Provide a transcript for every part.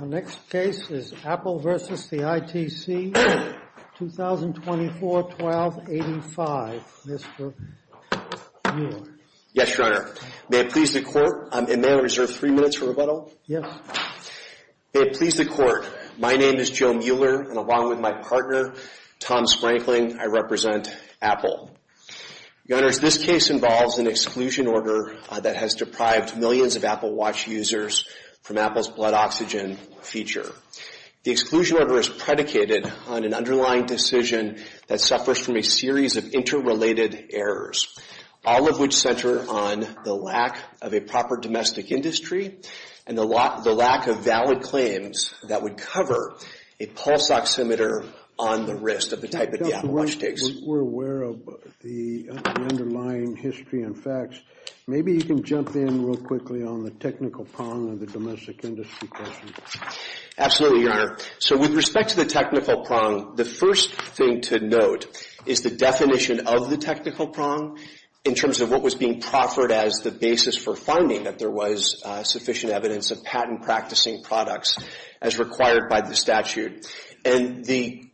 The next case is Apple v. ITC, 2024-12-85. Mr. Mueller. Yes, Your Honor. May it please the Court, and may I reserve three minutes for rebuttal? Yes. May it please the Court, my name is Joe Mueller, and along with my partner, Tom Sprankling, I represent Apple. Your Honors, this case involves an exclusion order that has deprived millions of Apple Watch users from Apple's blood oxygen feature. The exclusion order is predicated on an underlying decision that suffers from a series of interrelated errors, all of which center on the lack of a proper domestic industry and the lack of valid claims that would cover a pulse oximeter on the wrist of the type that the Apple Watch takes. We're aware of the underlying history and facts. Maybe you can jump in real quickly on the technical prong of the domestic industry question. Absolutely, Your Honor. So with respect to the technical prong, the first thing to note is the definition of the technical prong in terms of what was being proffered as the basis for finding that there was sufficient evidence of patent-practicing products as required by the statute. And the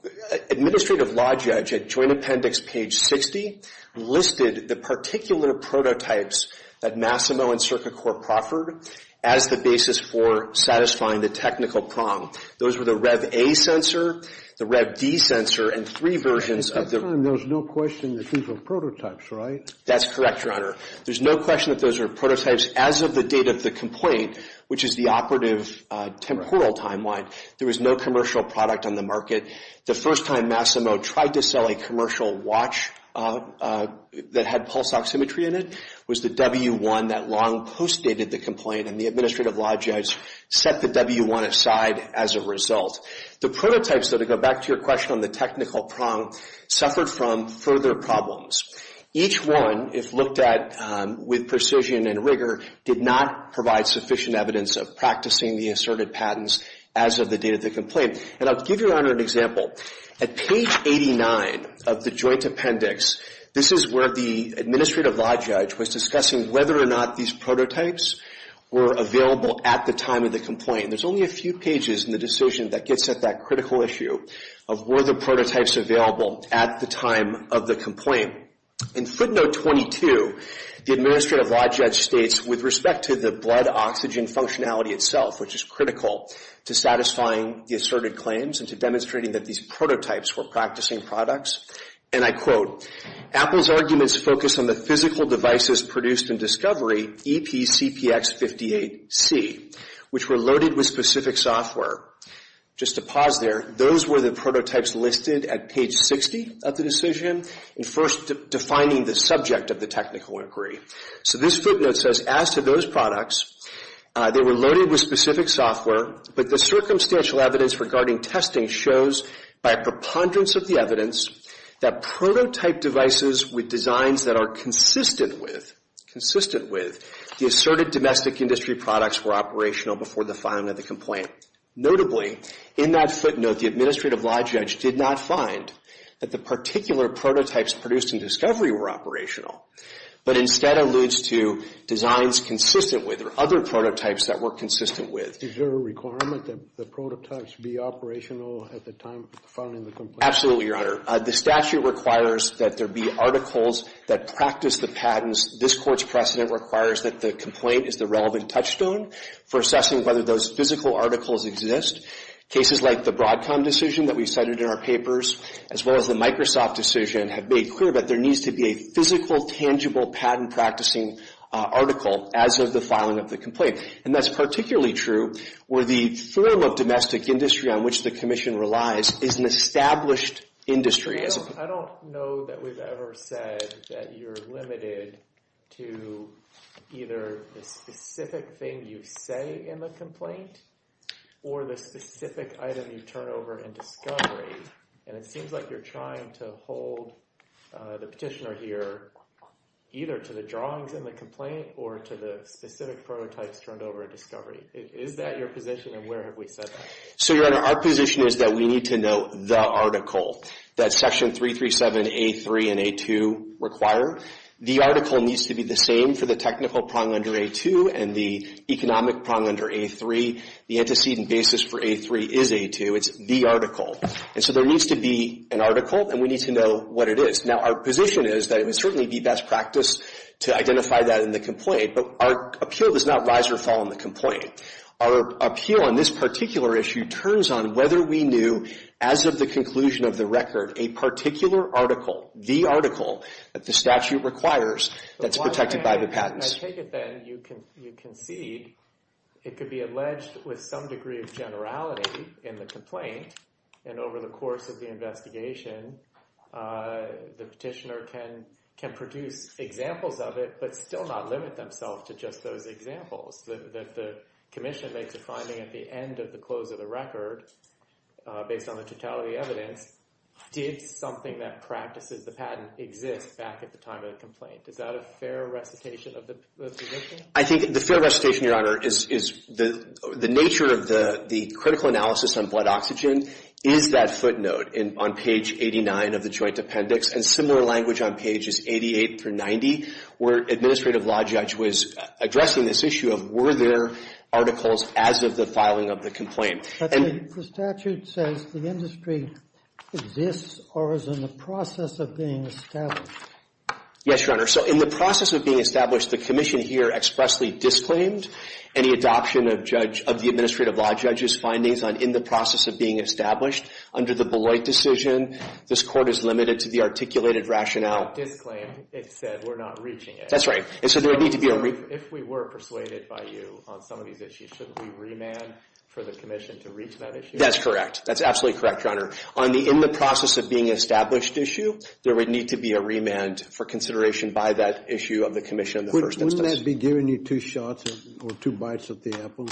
administrative law judge at Joint Appendix page 60 listed the particular prototypes that Massimo and Circuit Court proffered as the basis for satisfying the technical prong. Those were the REV-A sensor, the REV-D sensor, and three versions of the... At that time, there was no question that these were prototypes, right? That's correct, Your Honor. There's no question that those were prototypes as of the date of the complaint, which is the operative temporal timeline. There was no commercial product on the market. The first time Massimo tried to sell a commercial watch that had pulse oximetry in it was the W-1 that long post-dated the complaint, and the administrative law judge set the W-1 aside as a result. The prototypes that go back to your question on the technical prong suffered from further problems. Each one, if looked at with precision and rigor, did not provide sufficient evidence of practicing the asserted patents as of the date of the complaint. And I'll give Your Honor an example. At page 89 of the Joint Appendix, this is where the administrative law judge was discussing whether or not these prototypes were available at the time of the complaint. There's only a few pages in the decision that gets at that critical issue of were the prototypes available at the time of the complaint. In footnote 22, the administrative law judge states, with respect to the blood oxygen functionality itself, which is critical, to satisfying the asserted claims and to demonstrating that these prototypes were practicing products, and I quote, Apple's arguments focus on the physical devices produced in discovery, EPCPX58C, which were loaded with specific software. Just to pause there, those were the prototypes listed at page 60 of the decision and first defining the subject of the technical inquiry. So this footnote says, as to those products, they were loaded with specific software, but the circumstantial evidence regarding testing shows, by a preponderance of the evidence, that prototype devices with designs that are consistent with the asserted domestic industry products were operational before the filing of the complaint. Notably, in that footnote, the administrative law judge did not find that the particular prototypes produced in discovery were operational, but instead alludes to designs consistent with, or other prototypes that were consistent with. Is there a requirement that the prototypes be operational at the time of filing the complaint? Absolutely, Your Honor. The statute requires that there be articles that practice the patents. This Court's precedent requires that the complaint is the relevant touchstone for assessing whether those physical articles exist. Cases like the Broadcom decision that we cited in our papers, as well as the Microsoft decision, have made clear that there needs to be a physical, tangible patent practicing article as of the filing of the complaint. And that's particularly true where the firm of domestic industry on which the Commission relies is an established industry. I don't know that we've ever said that you're limited to either the specific thing you say in the complaint or the specific item you turn over in discovery. And it seems like you're trying to hold the petitioner here either to the drawings in the complaint or to the specific prototypes turned over in discovery. Is that your position, and where have we said that? So, Your Honor, our position is that we need to know the article that Section 337A3 and A2 require. The article needs to be the same for the technical prong under A2 and the economic prong under A3. The antecedent basis for A3 is A2. It's the article. And so there needs to be an article, and we need to know what it is. Now, our position is that it would certainly be best practice to identify that in the complaint, but our appeal does not rise or fall on the complaint. Our appeal on this particular issue turns on whether we knew, as of the conclusion of the record, a particular article, the article that the statute requires that's protected by the patents. I take it then you concede it could be alleged with some degree of generality in the complaint, and over the course of the investigation, the petitioner can produce examples of it, but still not limit themselves to just those examples. That the Commission makes a finding at the end of the close of the record, based on the totality of the evidence, did something that practices the patent exist back at the time of the complaint. Is that a fair recitation of the position? I think the fair recitation, Your Honor, is the nature of the critical analysis on blood oxygen is that footnote on page 89 of the joint appendix, and similar language on pages 88 through 90, where Administrative Law Judge was addressing this issue of were there articles as of the filing of the complaint. But the statute says the industry exists or is in the process of being established. Yes, Your Honor. So in the process of being established, the Commission here expressly disclaimed any adoption of the Administrative Law Judge's findings on in the process of being established under the Beloit decision. This Court is limited to the articulated rationale. Disclaim, it said we're not reaching it. That's right. If we were persuaded by you on some of these issues, shouldn't we remand for the Commission to reach that issue? That's correct. That's absolutely correct, Your Honor. On the in the process of being established issue, there would need to be a remand for consideration by that issue of the Commission in the first instance. Would that be giving you two shots or two bites at the apple?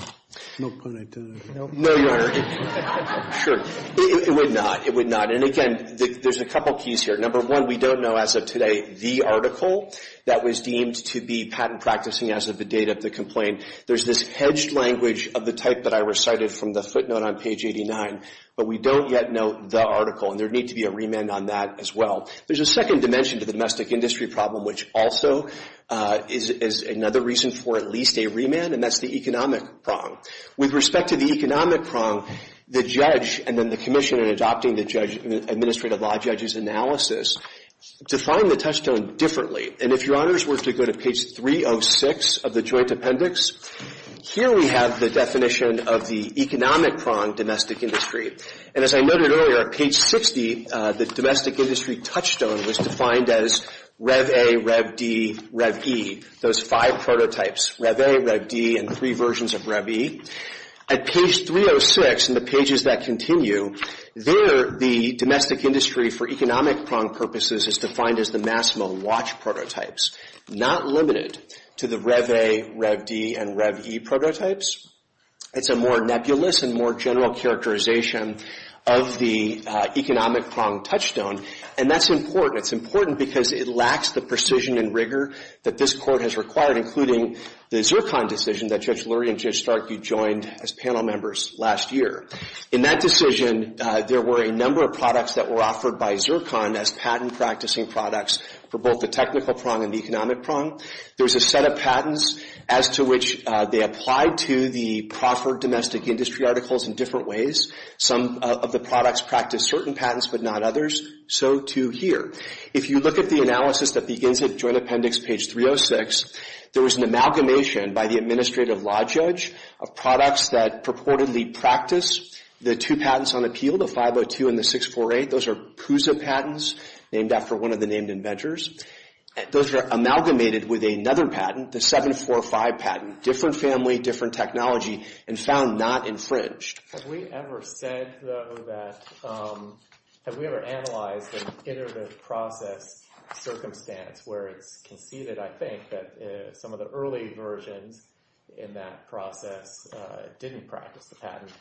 No pun intended. No, Your Honor. Sure. It would not. It would not. And again, there's a couple of keys here. Number one, we don't know as of today the article that was deemed to be patent practicing as of the date of the complaint. There's this hedged language of the type that I recited from the footnote on page 89, but we don't yet know the article. And there would need to be a remand on that as well. There's a second dimension to the domestic industry problem, which also is another reason for at least a remand, and that's the economic prong. With respect to the economic prong, the judge and then the Commission in adopting the Administrative Law Judge's analysis defined the touchstone differently. And if Your Honor's were to go to page 306 of the Joint Appendix, here we have the definition of the economic prong domestic industry. And as I noted earlier, page 60, the domestic industry touchstone was defined as Rev-A, Rev-D, Rev-E, those five prototypes, Rev-A, Rev-D, and three versions of Rev-E. At page 306 in the pages that continue, there the domestic industry for economic prong purposes is defined as the Massimo watch prototypes, not limited to the Rev-A, Rev-D, and Rev-E prototypes. It's a more nebulous and more general characterization of the economic prong touchstone. And that's important. It's important because it lacks the precision and rigor that this Court has required, including the Zircon decision that Judge Lurie and Judge Starkie joined as panel members last year. In that decision, there were a number of products that were offered by Zircon as patent practicing products for both the technical prong and the economic prong. There was a set of patents as to which they applied to the proffered domestic industry articles in different ways. Some of the products practiced certain patents, but not others. So, too, here. If you look at the analysis that begins at Joint Appendix page 306, there was an amalgamation by the Administrative Law Judge of products that purportedly practice the two patents on appeal, the 502 and the 648. Those are PUSA patents, named after one of the named inventors. Those are amalgamated with another patent, the 745 patent, different family, different technology, and found not infringed. Have we ever said, though, that... Have we ever analyzed an iterative process circumstance where it's conceded, I think, that some of the early versions in that process didn't practice the patent,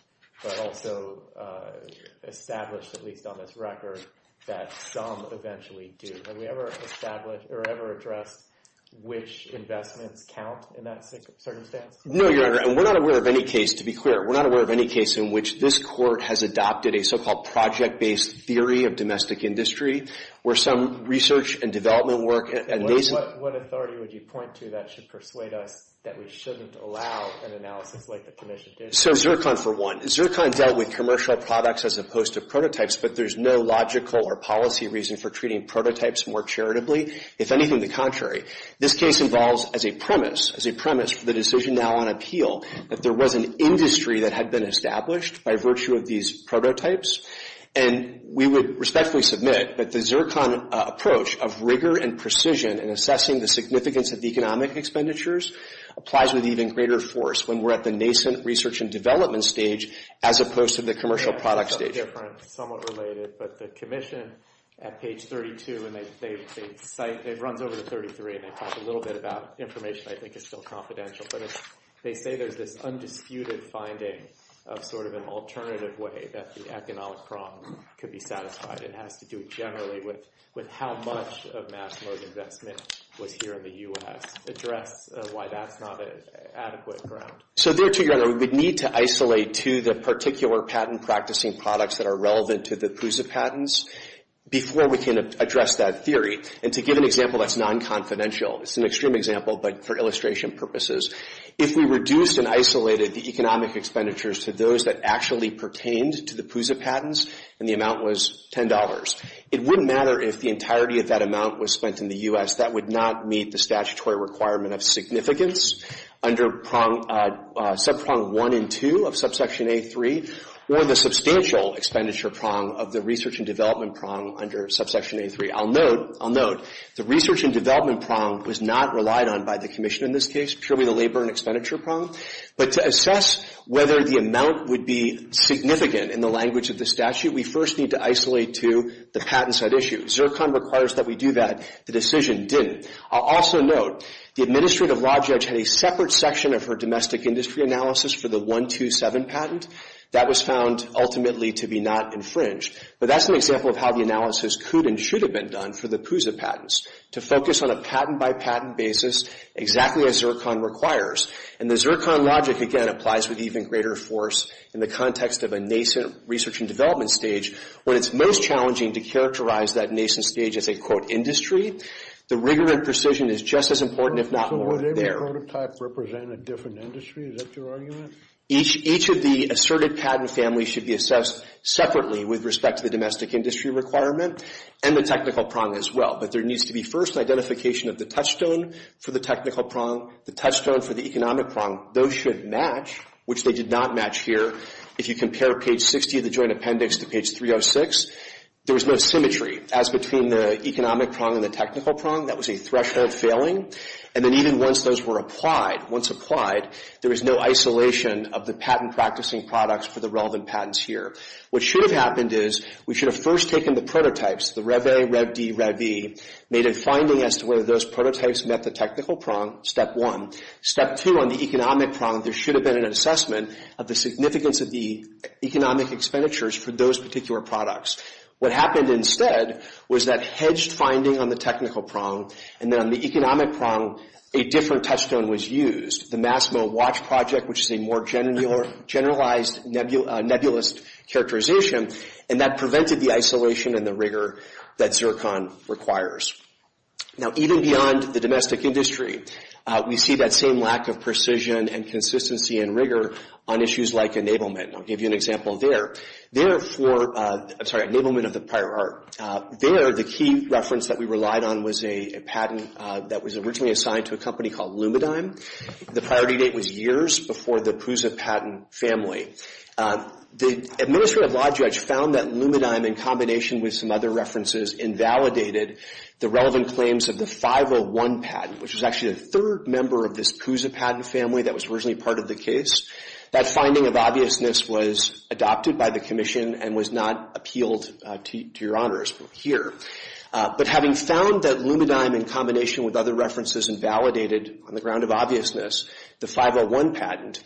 but also established, at least on this record, that some eventually do? Have we ever established or ever addressed which investments count in that circumstance? No, Your Honor, and we're not aware of any case, to be clear, we're not aware of any case in which this Court has adopted a so-called project-based theory of domestic industry, where some research and development work... What authority would you point to that should persuade us that we shouldn't allow an analysis like the Commission did? Zircon, for one. Zircon dealt with commercial products as opposed to prototypes, but there's no logical or policy reason for treating prototypes more charitably. If anything, the contrary. This case involves, as a premise for the decision now on appeal, that there was an industry that had been established by virtue of these prototypes, and we would respectfully submit that the Zircon approach of rigor and precision in assessing the significance of economic expenditures applies with even greater force when we're at the nascent research and development stage as opposed to the commercial product stage. It's a little different, somewhat related, but the Commission, at page 32, and they cite... It runs over to 33, and they talk a little bit about information I think is still confidential, but they say there's this undisputed finding of sort of an alternative way that the economic problem could be satisfied. It has to do generally with how much of mass mode investment was here in the U.S. Address why that's not an adequate ground. So there, to your honor, we would need to isolate to the particular patent practicing products that are relevant to the PUSA patents before we can address that theory. And to give an example that's non-confidential, it's an extreme example, but for illustration purposes, if we reduced and isolated the economic expenditures to those that actually pertained to the PUSA patents and the amount was $10, it wouldn't matter if the entirety of that amount was spent in the U.S. That would not meet the statutory requirement of significance under subprong one and two of subsection A3, or the substantial expenditure prong of the research and development prong under subsection A3. I'll note, the research and development prong was not relied on by the commission in this case, purely the labor and expenditure prong, but to assess whether the amount would be significant in the language of the statute, we first need to isolate to the patent side issue. Zircon requires that we do that. The decision didn't. I'll also note, the administrative law judge had a separate section of her domestic industry analysis for the 127 patent. That was found ultimately to be not infringed, but that's an example of how the analysis could and should have been done for the PUSA patents, to focus on a patent by patent basis, exactly as Zircon requires, and the Zircon logic, again, applies with even greater force in the context of a nascent research and development stage, when it's most challenging to characterize that nascent stage as a quote, industry, the rigor and precision is just as important, if not more, there. So would every prototype represent a different industry? Is that your argument? Each of the asserted patent families should be assessed separately with respect to the domestic industry requirement and the technical prong as well, but there needs to be first identification of the touchstone for the technical prong, the touchstone for the economic prong. Those should match, which they did not match here. If you compare page 60 of the joint appendix to page 306, there was no symmetry, as between the economic prong and the technical prong, that was a threshold failing, and then even once those were applied, once applied, there was no isolation of the patent practicing products for the relevant patents here. What should have happened is, we should have first taken the prototypes, the REVE, REV-D, REV-E, made a finding as to whether those prototypes met the technical prong, step one. Step two on the economic prong, there should have been an assessment of the significance of the economic expenditures for those particular products. What happened instead was that hedged finding on the technical prong, and then on the economic prong, a different touchstone was used, the Massimo Watch Project, which is a more generalized nebulous characterization, and that prevented the isolation and the rigor that Zircon requires. Now, even beyond the domestic industry, we see that same lack of precision and consistency and rigor on issues like enablement, and I'll give you an example there. There, for enablement of the prior art, there, the key reference that we relied on was a patent that was originally assigned to a company called Lumidigm. The priority date was years before the PUSA patent family. The Administrative Law Judge found that Lumidigm, in combination with some other references, invalidated the relevant claims of the 501 patent, which was actually the third member of this PUSA patent family that was originally part of the case. That finding of obviousness was adopted by the Commission and was not appealed to your honors here. But having found that Lumidigm, in combination with other references, invalidated on the ground of obviousness, the 501 patent,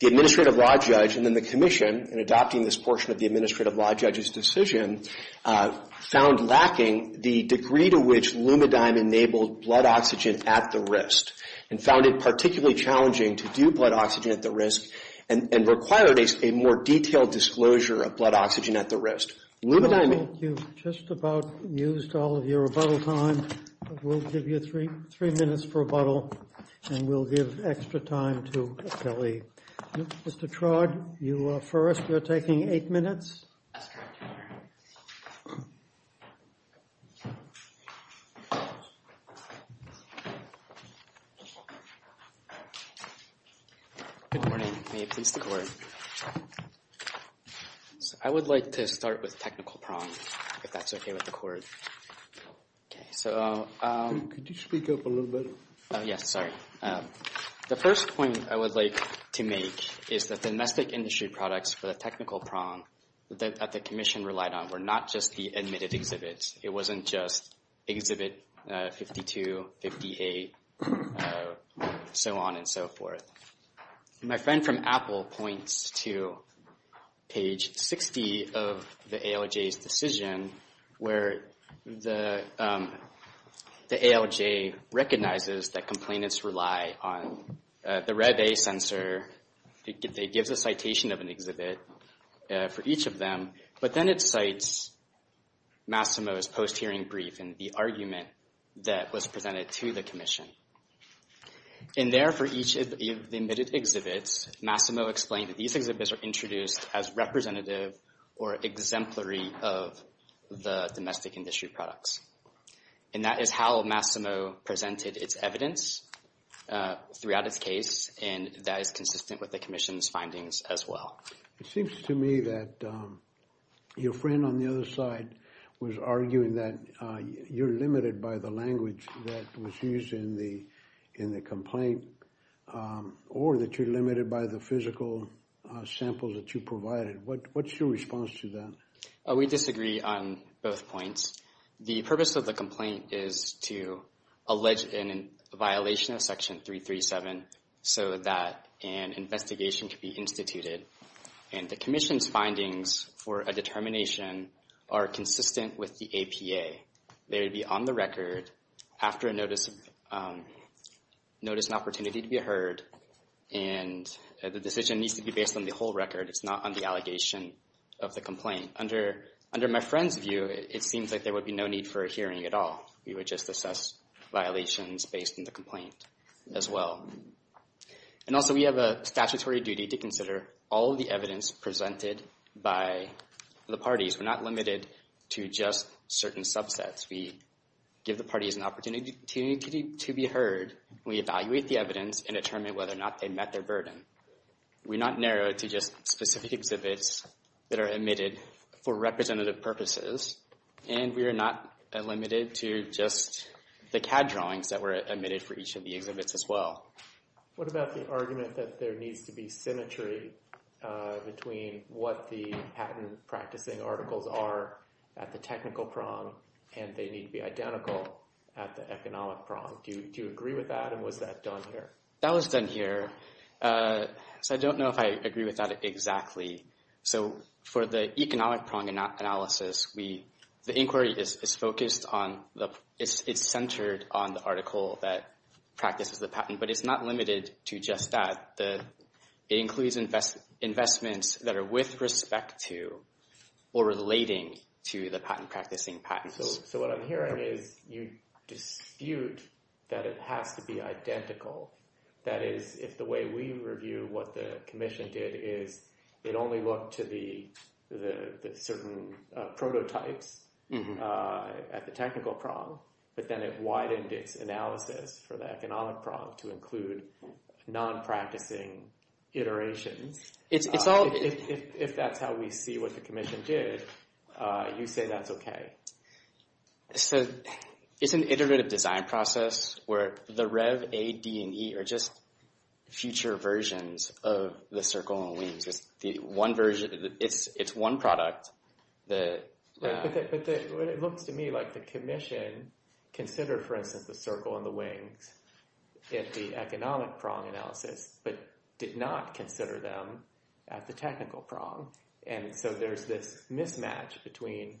the Administrative Law Judge and then the Commission, in adopting this portion of the Administrative Law Judge's decision, found lacking the degree to which Lumidigm enabled blood oxygen at the wrist, and found it particularly challenging to do blood oxygen at the wrist and required a more detailed disclosure of blood oxygen at the wrist. Lumidigm... You've just about used all of your rebuttal time. We'll give you three minutes for rebuttal and we'll give extra time to Kelly. Mr. Trodd, you are first. You're taking eight minutes. Good morning. May it please the Court. I would like to start with technical prongs, if that's okay with the Court. Okay, so... Could you speak up a little bit? Yes, sorry. The first point I would like to make is that the domestic industry products for the technical prong that the Commission relied on were not just the admitted exhibits. It wasn't just exhibit 52, 58, so on and so forth. My friend from Apple points to page 60 of the ALJ's decision where the ALJ recognizes that complainants rely on the Red A sensor. It gives a citation of an exhibit for each of them, but then it cites Massimo's post-hearing brief and the argument that was presented to the Commission. In there, for each of the admitted exhibits, Massimo explained that these exhibits are introduced as representative or exemplary of the domestic industry products. And that is how Massimo presented its evidence throughout its case, and that is consistent with the Commission's findings as well. It seems to me that your friend on the other side was arguing that you're limited by the language that was used in the complaint, or that you're limited by the physical sample that you provided. What's your response to that? We disagree on both points. The purpose of the complaint is to allege a violation of Section 337 so that an investigation could be instituted. The Commission's findings for a determination are consistent with the APA. They would be on the record after a notice of an opportunity to be heard, and the decision needs to be based on the whole record. It's not on the allegation of the complaint. Under my friend's view, it seems like there would be no need for a hearing at all. We would just assess violations based on the complaint as well. And also, we have a statutory duty to consider all of the evidence presented by the parties. We're not limited to just certain subsets. We give the parties an opportunity to be heard. We evaluate the evidence and determine whether or not they met their burden. We're not narrowed to just specific exhibits that are omitted for representative purposes. And we're not limited to just the CAD drawings that were omitted for each of the exhibits as well. What about the argument that there needs to be symmetry between what the patent practicing articles are at the technical prong and they need to be identical at the economic prong? Do you agree with that, and was that done here? That was done here. So I don't know if I agree with that exactly. So for the economic prong analysis, the inquiry is focused on it's centered on the article that practices the patent, but it's not limited to just that. It includes investments that are with respect to or relating to the patent practicing patents. So what I'm hearing is you dispute that it has to be identical. That is, if the way we review what the commission did is it only looked to the certain prototypes at the technical prong, but then it widened its analysis for the economic prong to include non-practicing iterations. If that's how we see what the commission did, you say that's okay. So it's an iterative design process where the Rev, A, D, and E are just future versions of the circle and wings. It's one product. But it looks to me like the commission considered, for instance, the circle and the wings at the economic prong analysis, but did not consider them at the technical prong. And so there's this mismatch between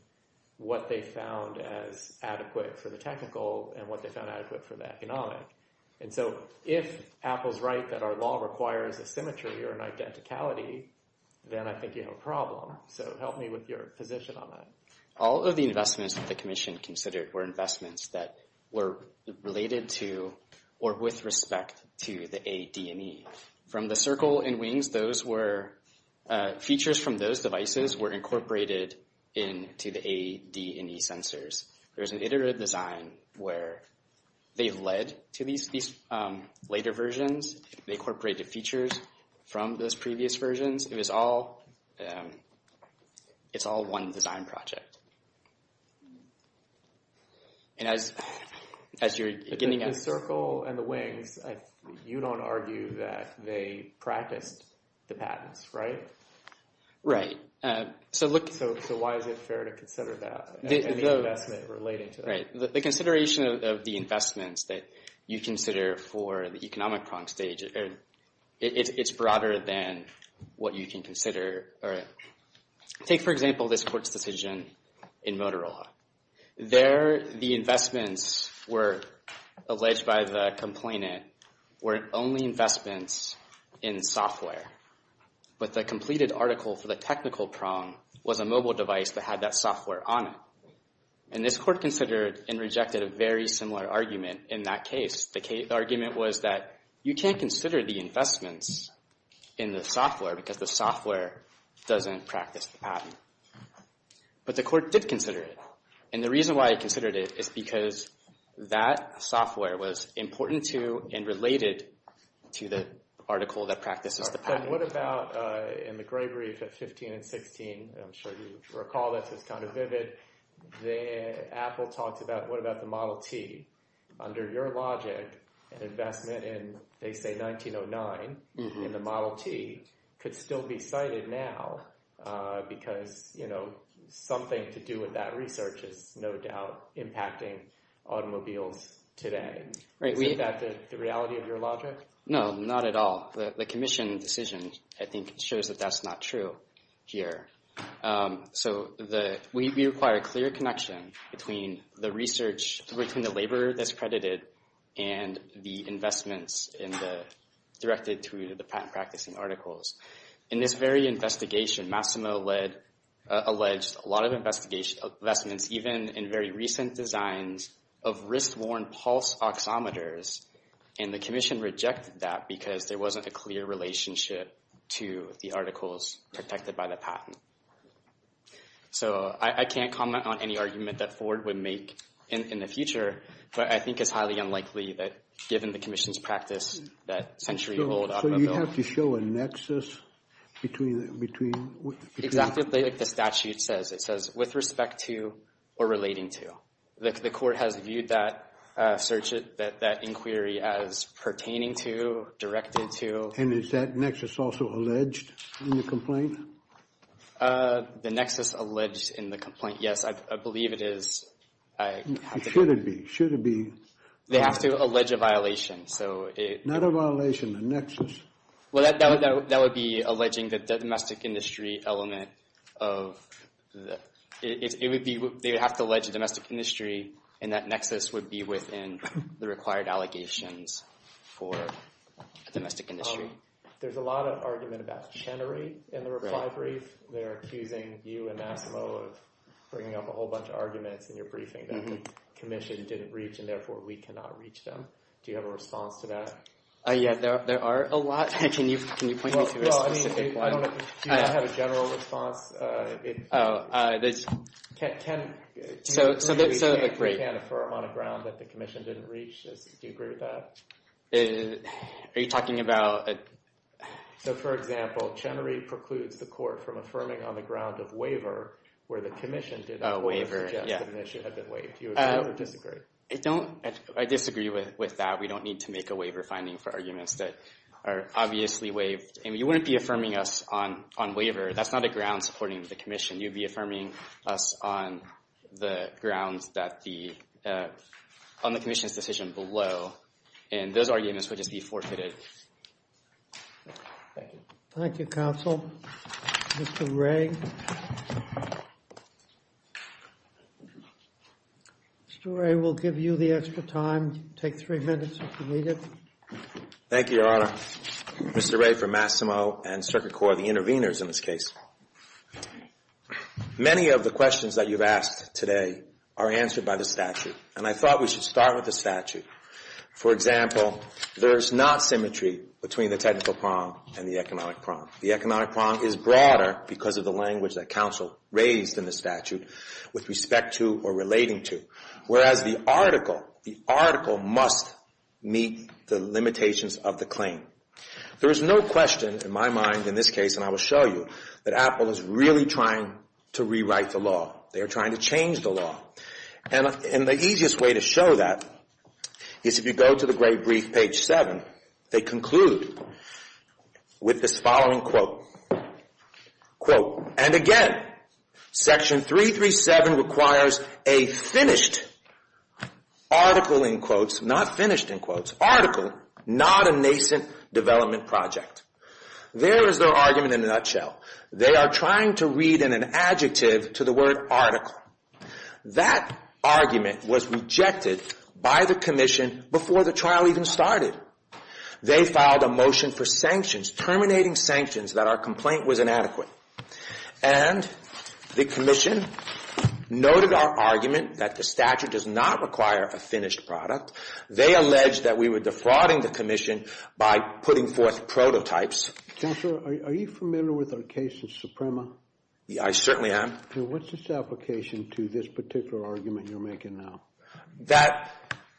what they found as adequate for the technical and what they found adequate for the economic. And so if Apple's right that our law requires a symmetry or an identicality, then I think you have a problem. So help me with your position on that. All of the investments that the commission considered were investments that were related to or with respect to the A, D, and E. From the circle and wings, those were features from those devices were incorporated into the A, D, and E sensors. There's an iterative design where they've led to these later versions. They incorporated features from those previous versions. It was all one design project. And as you're beginning... The circle and the wings, you don't argue that they practiced the patents, right? Right. So why is it fair to consider that? The consideration of the investments that you consider for the economic prong stage, it's broader than what you can consider. Take, for example, this patent in Motorola. There, the investments were, alleged by the complainant, were only investments in software. But the completed article for the technical prong was a mobile device that had that software on it. And this court considered and rejected a very similar argument in that case. The argument was that you can't consider the investments in the software because the software doesn't practice the patent. But the court did consider it. And the reason why it considered it is because that software was important to and related to the article that practices the patent. And what about in the gray brief at 15 and 16? I'm sure you recall this. It's kind of vivid. Apple talked about what about the Model T. Under your logic, an investment in, they say, 1909 in the Model T could still be cited now because, you know, something to do with that research is no doubt impacting automobiles today. Is that the reality of your logic? No, not at all. The commission decision, I think, shows that that's not true here. So we require a clear connection between the research, between the laborer that's credited and the investments in the directed to the patent practicing articles. In this very investigation, Massimo alleged a lot of investments, even in very recent designs of wrist-worn pulse oximeters, and the commission rejected that because there wasn't a clear relationship to the articles protected by the patent. So I can't comment on any argument that Ford would make in the future, but I think it's highly unlikely that, given the commission's practice, that century-old automobiles... So you have to show a nexus between... Exactly like the statute says. It says, with respect to or relating to. The court has viewed that inquiry as pertaining to, directed to... And is that nexus also alleged in the complaint? The nexus alleged in the complaint, yes. I believe it is. Should it be? They have to allege a violation. Not a violation, a nexus. That would be alleging the domestic industry element of... They would have to allege a domestic industry and that nexus would be within the required allegations for a domestic industry. There's a lot of argument about Chenery in the reply brief. They're accusing you and Massimo of bringing up a whole bunch of arguments in your briefing that the commission didn't reach and therefore we cannot reach them. Do you have a response to that? There are a lot. Can you point me to a specific one? Do you have a general response? You can't affirm on the ground that the commission didn't reach. Do you agree with that? Are you talking about... For example, Chenery precludes the court from affirming on the ground of waiver where the commission didn't... Waiver. I disagree with that. We don't need to make a waiver finding for arguments that are obviously waived. You wouldn't be affirming us on waiver. That's not a ground supporting the commission. You'd be affirming us on the grounds that the... on the commission's decision below and those arguments would just be forfeited. Thank you, counsel. Mr. Wray. Mr. Wray, we'll give you the extra time. Take three minutes if you need it. Thank you, Your Honor. Mr. Wray for Massimo and Circuit Court, the intervenors in this case. Many of the questions that you've asked today are answered by the statute and I thought we should start with the statute. For example, there's not symmetry between the technical prong and the economic prong. The economic prong is broader because of the language that counsel raised in the statute with respect to or relating to. Whereas the article, the article must meet the limitations of the claim. There is no question in my mind in this case, and I will show you, that Apple is really trying to rewrite the law. They are trying to change the law. And the easiest way to show that is if you go to the great brief, page seven, they conclude with this following quote. And again, section 337 requires a finished article in quotes, not finished in quotes, article, not a nascent development project. There is their argument in a nutshell. They are trying to read in an adjective to the word article. That argument was rejected by the commission before the trial even started. They filed a motion for sanctions, terminating sanctions, that our complaint was inadequate. And the commission noted our argument that the statute does not require a finished product. They alleged that we were defrauding the commission by putting forth prototypes. Counselor, are you familiar with our case of Suprema? I certainly am. And what's its application to this particular argument you're making now? That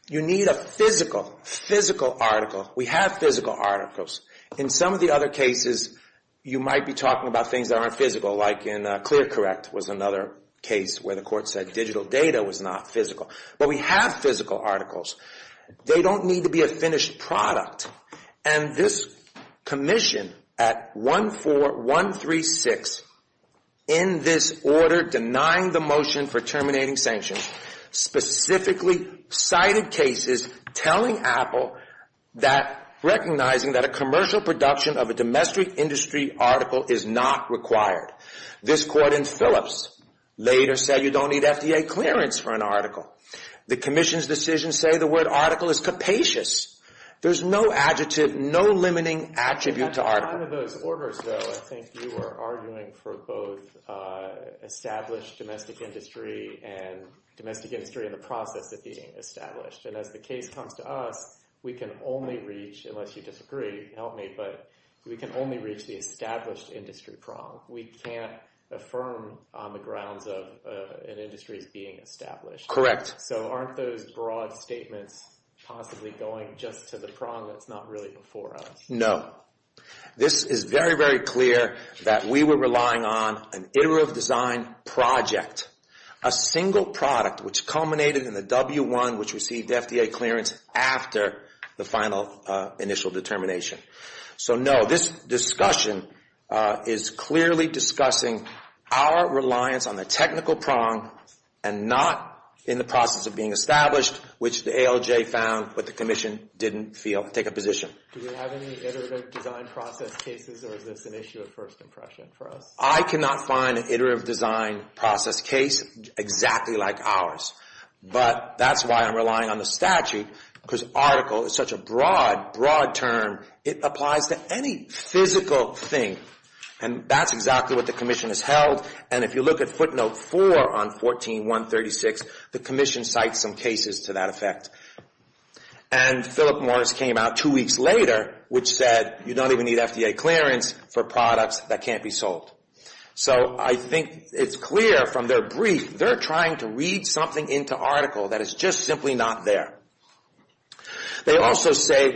you need a physical, physical article. We have physical articles. In some of the other cases, you might be talking about things that aren't physical, like in ClearCorrect was another case where the court said digital data was not physical. But we have physical articles. They don't need to be a finished product. And this commission at 14136 in this order denying the motion for terminating sanctions, specifically cited cases telling Apple that recognizing that a commercial production of a domestic industry article is not required. This court in Phillips later said you don't need FDA clearance for an article. The commission's decision say the word article is capacious. There's no adjective, no limiting attribute to article. At the time of those orders, though, I think you were arguing for both established domestic industry and domestic industry in the process of being established. And as the case comes to us, we can only reach, unless you disagree, help me, but we can only reach the established industry prong. We can't affirm on the grounds of an industry's being established. Correct. So aren't those broad statements possibly going just to the prong that's not really before us? No. This is very, very clear that we were relying on an iterative design project. A single product, which culminated in the W1, which received FDA clearance after the final initial determination. So no, this discussion is clearly discussing our reliance on the technical prong and not in the process of being established, which the ALJ found, but the commission didn't feel. Take a position. Do we have any iterative design process cases or is this an issue of first impression for us? I cannot find an iterative design process case exactly like ours, but that's why I'm relying on the statute because article is such a broad, broad term. It applies to any physical thing and that's exactly what the commission has held. And if you look at footnote 4 on 14-136, the commission cites some cases to that effect. And Philip Morris came out two weeks later, which said you don't even need FDA clearance for products that can't be sold. So I think it's clear from their brief, they're trying to read something into article that is just simply not there. They also say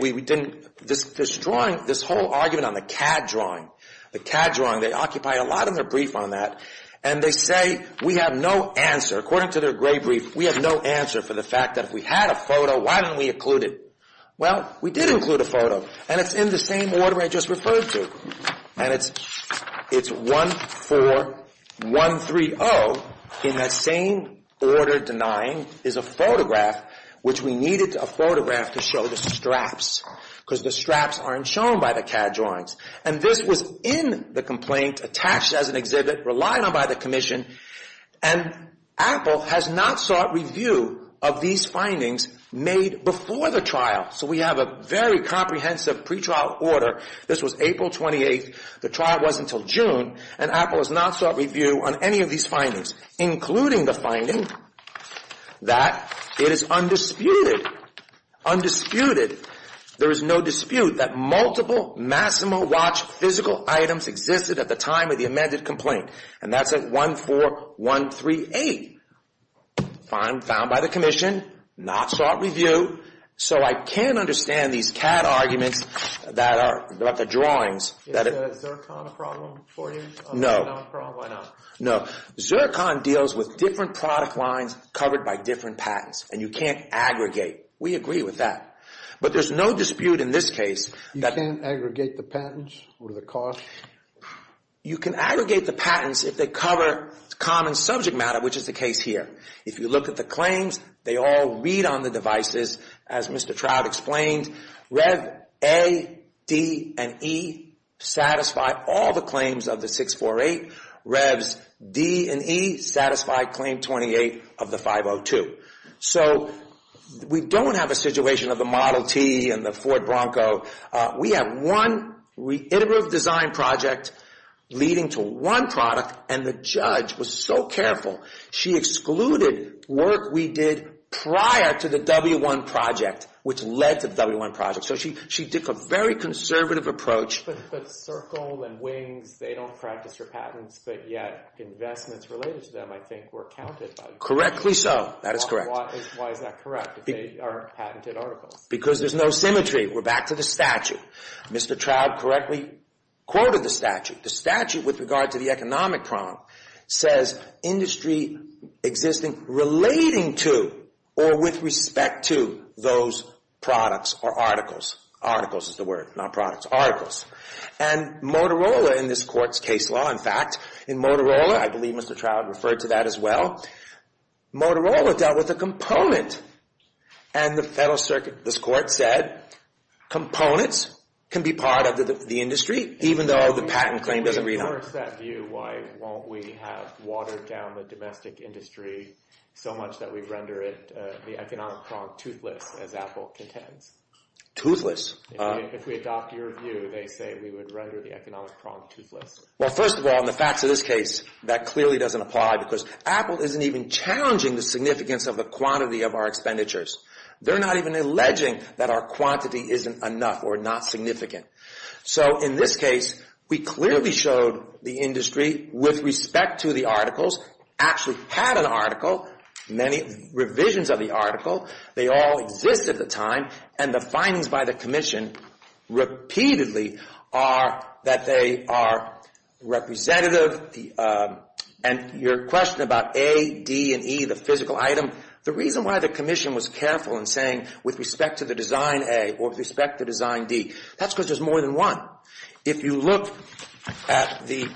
this drawing, this whole argument on the CAD drawing, the CAD drawing, they occupy a lot in their brief on that, and they say we have no answer. According to their gray brief, we have no answer for the fact that if we had a photo, why didn't we include it? Well, we did include a photo and it's in the same order I just referred to. And it's 14-130 in that same order denying is a photograph which we needed a photograph to show the straps because the straps aren't shown by the CAD drawings. And this was in the complaint attached as an exhibit relied on by the commission and Apple has not sought review of these findings made before the trial. So we have a very comprehensive pre-trial order. This was April 28th. The trial wasn't until June and Apple has not sought review on any of these findings, including the finding that it is undisputed. Undisputed. There is no dispute that multiple Massimo watch physical items existed at the time of the amended complaint. And that's at 14-138 found by the commission. Not sought review. So I can understand these CAD arguments about the drawings. Is Zircon a problem for you? No. Zircon deals with different product lines covered by different patents. And you can't aggregate. We agree with that. But there's no dispute in this case You can't aggregate the patents or the costs? You can aggregate the patents if they cover common subject matter, which is the case here. If you look at the claims, they all read on the devices. As Mr. Trout explained, Rev. A, D, and E satisfy all the claims of the 648. Revs D and E satisfy Claim 28 of the 502. So we don't have a situation of the Model T and the Ford Bronco. We have one reiterative design project leading to one product and the judge was so careful she excluded work we did prior to the W-1 project, which led to the W-1 project. So she took a very conservative approach. But Zircon and Wings, they don't practice their patents, but yet investments related to them I think were counted. Correctly so. That is correct. Why is that correct? Because there's no symmetry. We're back to the statute. Mr. Trout correctly quoted the statute. The statute with regard to the economic prompt says industry existing relating to or with respect to those products or articles. Articles is the word, not products. Articles. And Motorola in this court's case law, in fact, in Motorola, I believe Mr. Trout referred to that as well, Motorola dealt with a component and the Federal Circuit of this court said components can be part of the industry even though the patent claim doesn't read on it. Why won't we have watered down the domestic industry so much that we render it the economic prompt toothless as Apple contends? If we adopt your view, they say we would render the economic prompt toothless. Well, first of all, in the facts of this case, that clearly doesn't apply because Apple isn't even challenging the significance of the quantity of our expenditures. They're not even alleging that our quantity isn't enough or not significant. So in this case, we clearly showed the industry with respect to the articles, actually had an article, many revisions of the article, they all exist at the time, and the findings by the commission repeatedly are that they are representative, and your question about A, D, and E, the physical item, the reason why the commission was careful in saying with respect to the design A or with respect to design D, that's because there's more than one. If you look at the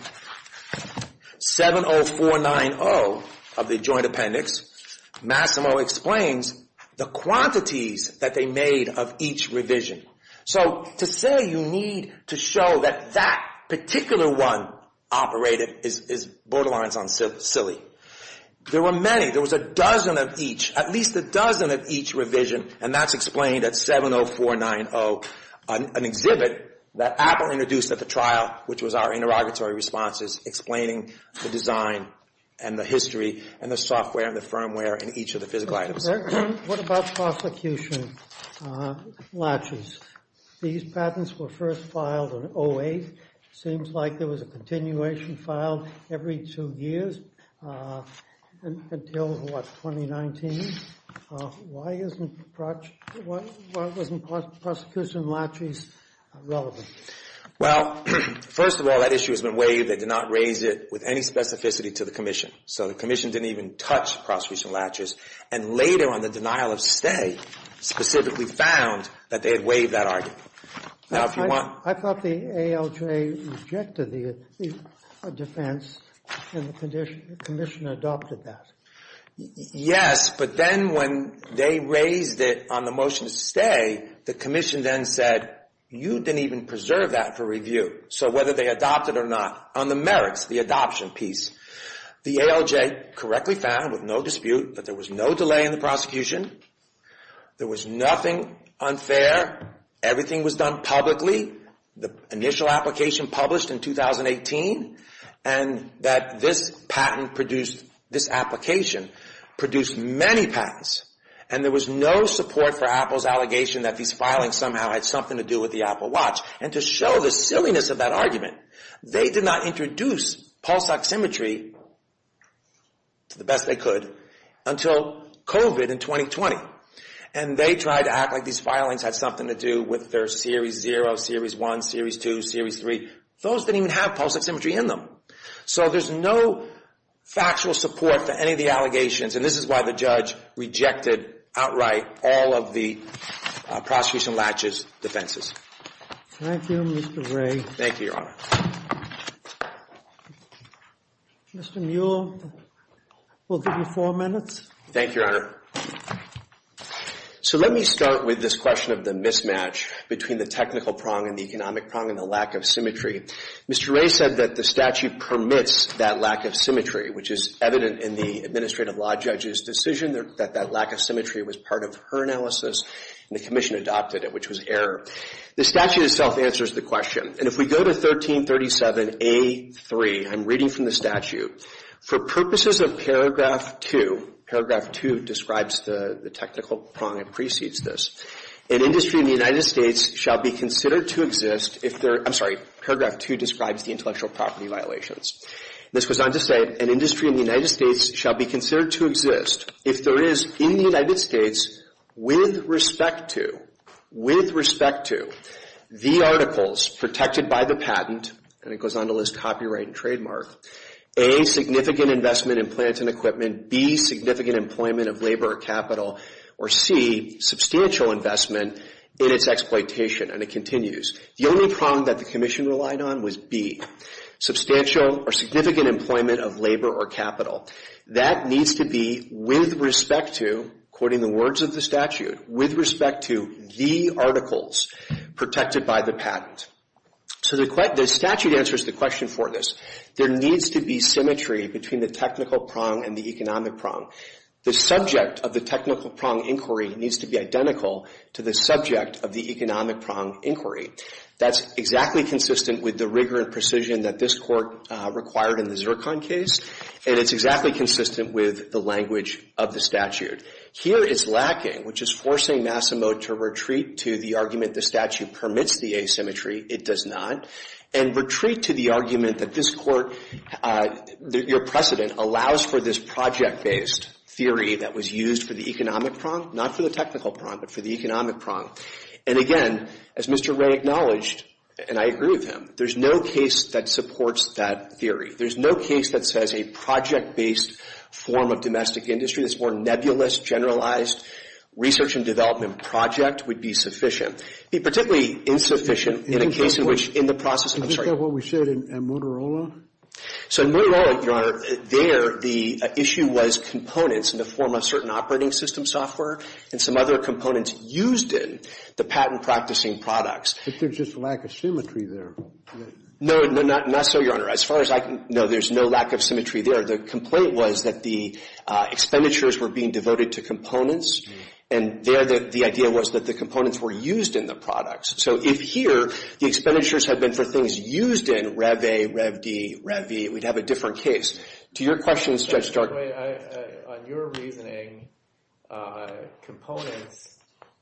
70490 of the joint appendix, Massimo explains the quantities that they made of each revision. So to say you need to show that that particular one operated is borderlines silly. There were many. There was a dozen of each, at least a dozen of each revision, and that's explained at 70490. An exhibit that Apple introduced at the trial, which was our interrogatory responses, explaining the design and the history and the software and the firmware in each of the physical items. What about prosecution latches? These patents were first filed in 08. Seems like there was a continuation filed every two years until what, 2019? Why isn't prosecution latches relevant? Well, first of all, that issue has been waived. They did not raise it with any specificity to the commission. So the commission didn't even touch prosecution latches and later on the denial of stay specifically found that they had waived that argument. I thought the ALJ rejected the defense and the commission adopted that. Yes, but then when they raised it on the motion to stay, the commission then said you didn't even preserve that for review. So whether they adopted it or not on the merits, the adoption piece, the ALJ correctly found with no dispute that there was no delay in the prosecution. There was nothing unfair. Everything was done publicly. The initial application published in 2018 and that this patent produced, this application produced many patents and there was no support for Apple's allegation that these filings somehow had something to do with the Apple Watch. And to show the silliness of that argument, they did not introduce pulse oximetry to the best they could until COVID in 2020 and they tried to act like these filings had something to do with their Series 0, Series 1, Series 2, Series 3. Those didn't even have pulse oximetry in them. So there's no factual support for any of the allegations and this is why the judge rejected outright all of the prosecution latches defenses. Thank you, Mr. Wray. Thank you, Your Honor. Mr. Muell, we'll give you four minutes. Thank you, Your Honor. So let me start with this question of the mismatch between the technical prong and the economic prong and the lack of symmetry. Mr. Wray said that the statute permits that lack of symmetry, which is evident in the administrative law judge's decision that that lack of symmetry was part of her analysis and the commission adopted it, which was error. The statute itself answers the question and if we go to 1337 A3, I'm reading from the statute, for purposes of paragraph 2, paragraph 2 describes the technical prong and precedes this, an industry in the United States shall be considered to exist if there, I'm sorry, paragraph 2 describes the intellectual property violations. This goes on to say an industry in the United States shall be considered to exist if there is in the United States with respect to, with respect to the articles protected by the patent, and it goes on to list copyright and trademark, A, significant investment in plant and equipment, B, significant employment of labor or capital, or C, substantial investment in its exploitation, and it continues. The only prong that the commission relied on was B, substantial or significant employment of labor or capital. That needs to be with respect to, quoting the words of the statute, with respect to the articles protected by the patent. So the statute answers the question for this. There needs to be symmetry between the technical prong and the economic prong. The subject of the technical prong inquiry needs to be identical to the subject of the economic prong inquiry. That's exactly consistent with the rigor and precision that this Court required in the Zircon case, and it's exactly consistent with the language of the statute. Here it's lacking, which is forcing Massimo to retreat to the argument the statute permits the asymmetry. It does not. And retreat to the argument that this Court, your precedent, allows for this project based theory that was used for the economic prong, not for the technical prong, but for the economic prong. And again, as Mr. Wray acknowledged, and I agree with him, there's no case that supports that theory. There's no case that says a project based form of domestic industry, this more nebulous, generalized research and development project would be sufficient. It would be particularly insufficient in a case in which, in the process of, I'm sorry. Isn't that what we said in Motorola? So in Motorola, your Honor, there, the issue was components in the form of certain operating system software and some other components used in the patent practicing products. But there's just a lack of symmetry there. No, not so, your Honor. As far as I can know, there's no lack of symmetry there. The complaint was that the expenditures were being devoted to components, and there the idea was that the components were used in the products. So if here the expenditures had been for things used in Rev. A, Rev. D, Rev. E, we'd have a different case. To your question, Judge Stark. On your reasoning, components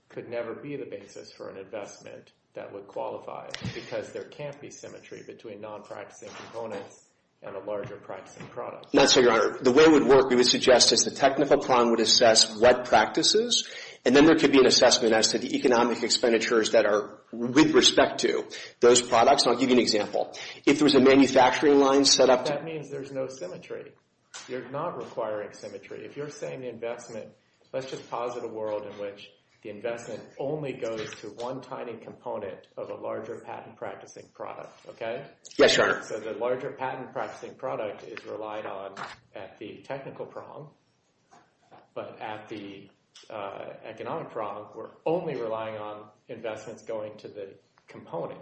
could never be the basis for an investment that would qualify, because there can't be symmetry between non-practicing components and a larger practicing product. Not so, your Honor. The way it would work, we would suggest is the technical plan would assess what practices, and then there could be an assessment as to the economic expenditures that are with respect to those products. And I'll give you an example. If there was a manufacturing line set up That means there's no symmetry. You're not requiring symmetry. If you're saying the investment, let's just posit a world in which the investment only goes to one tiny component of a larger patent practicing product, okay? Yes, your Honor. So the larger patent practicing product is relied on at the technical prong, but at the economic prong, we're only relying on investments going to the component.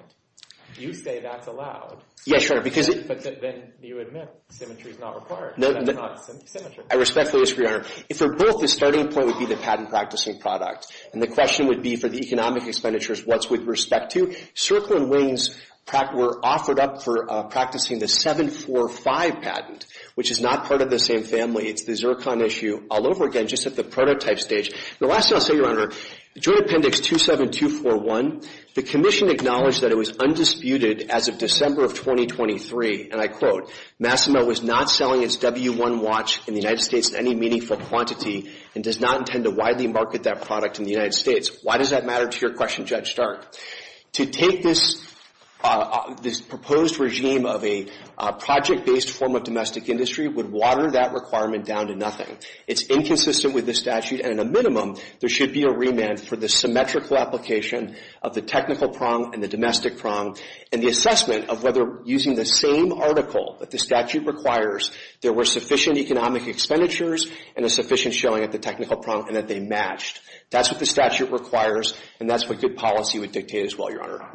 You say that's allowed. Yes, your Honor. But then you admit symmetry is not required. That's not symmetry. I respectfully ask, your Honor. If they're both, the starting point would be the patent practicing product. And the question would be for the economic expenditures, what's with respect to? Circle and Wings were offered up for practicing the 745 patent, which is not part of the same family. It's the Zircon issue all over again, just at the prototype stage. The last thing I'll say, your Honor, Joint Appendix 27241, the Commission acknowledged that it was undisputed as of December of 2023, and I quote, Massimo was not selling its W1 watch in the United States in any meaningful quantity and does not intend to widely market that product in the United States. Why does that matter to your question, Judge Stark? To take this proposed regime of a project-based form of domestic industry would water that requirement down to nothing. It's inconsistent with the statute and at a minimum, there should be a remand for the symmetrical application of the technical prong and the domestic prong and the assessment of whether using the same article that the statute requires, there were sufficient economic expenditures and a sufficient showing at the technical prong and that they matched. That's what the statute requires and that's what good policy would dictate as well, your Honor.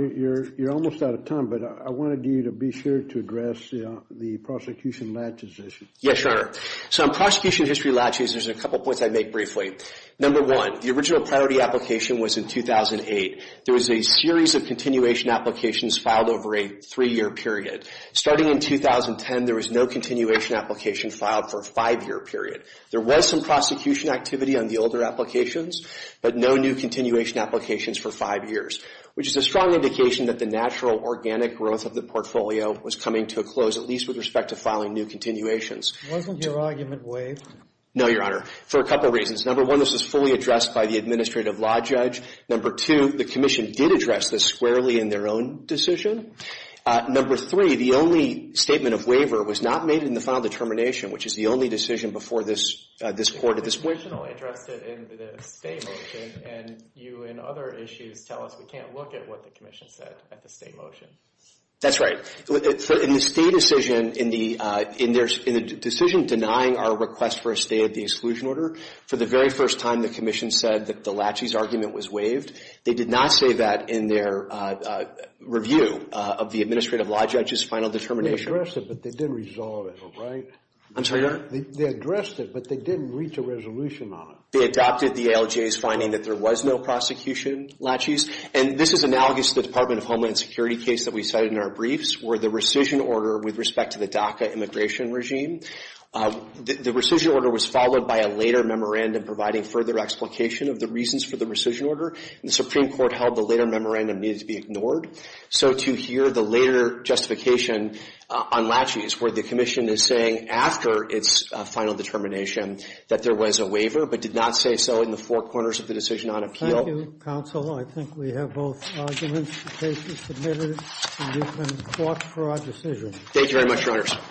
You're almost out of time, but I wanted you to be sure to address the prosecution laches issue. Yes, your Honor. So on prosecution history laches, there's a couple points I'd make briefly. Number one, the original priority application was in 2008. There was a series of continuation applications filed over a three-year period. Starting in 2010, there was no continuation application filed for a five-year period. There was some prosecution activity on the older applications, but no new continuation applications for five years, which is a strong indication that the natural organic growth of the portfolio was coming to a close at least with respect to filing new continuations. Wasn't your argument waived? No, your Honor, for a couple reasons. Number one, this was fully addressed by the administrative law judge. Number two, the commission did address this squarely in their own decision. Number three, the only statement of waiver was not made in the final determination, which is the only decision before this court at this point. You originally addressed it in the state motion, and you in other issues tell us we can't look at what the commission said at the state motion. That's right. In the state decision, in the decision denying our request for a stay at the exclusion order, for the very first time the commission said that the Lachey's argument was waived. They did not say that in their review of the administrative law judge's final determination. They addressed it, but they didn't resolve it, all right? I'm sorry, Your Honor? They addressed it, but they didn't reach a resolution on it. They adopted the ALJ's finding that there was no prosecution, Lachey's, and this is analogous to the Department of Homeland Security case that we cited in our briefs, where the rescission order with respect to the DACA immigration regime. The rescission order was followed by a later memorandum providing further explication of the reasons for the rescission order, and the Supreme Court held the later memorandum needed to be ignored. So to hear the later justification on Lachey's, where the commission is saying after its final determination that there was a waiver, but did not say so in the four corners of the decision on appeal. Thank you, counsel. I think we have both arguments. The case is submitted, and you can quote for our decision. Thank you very much, Your Honors.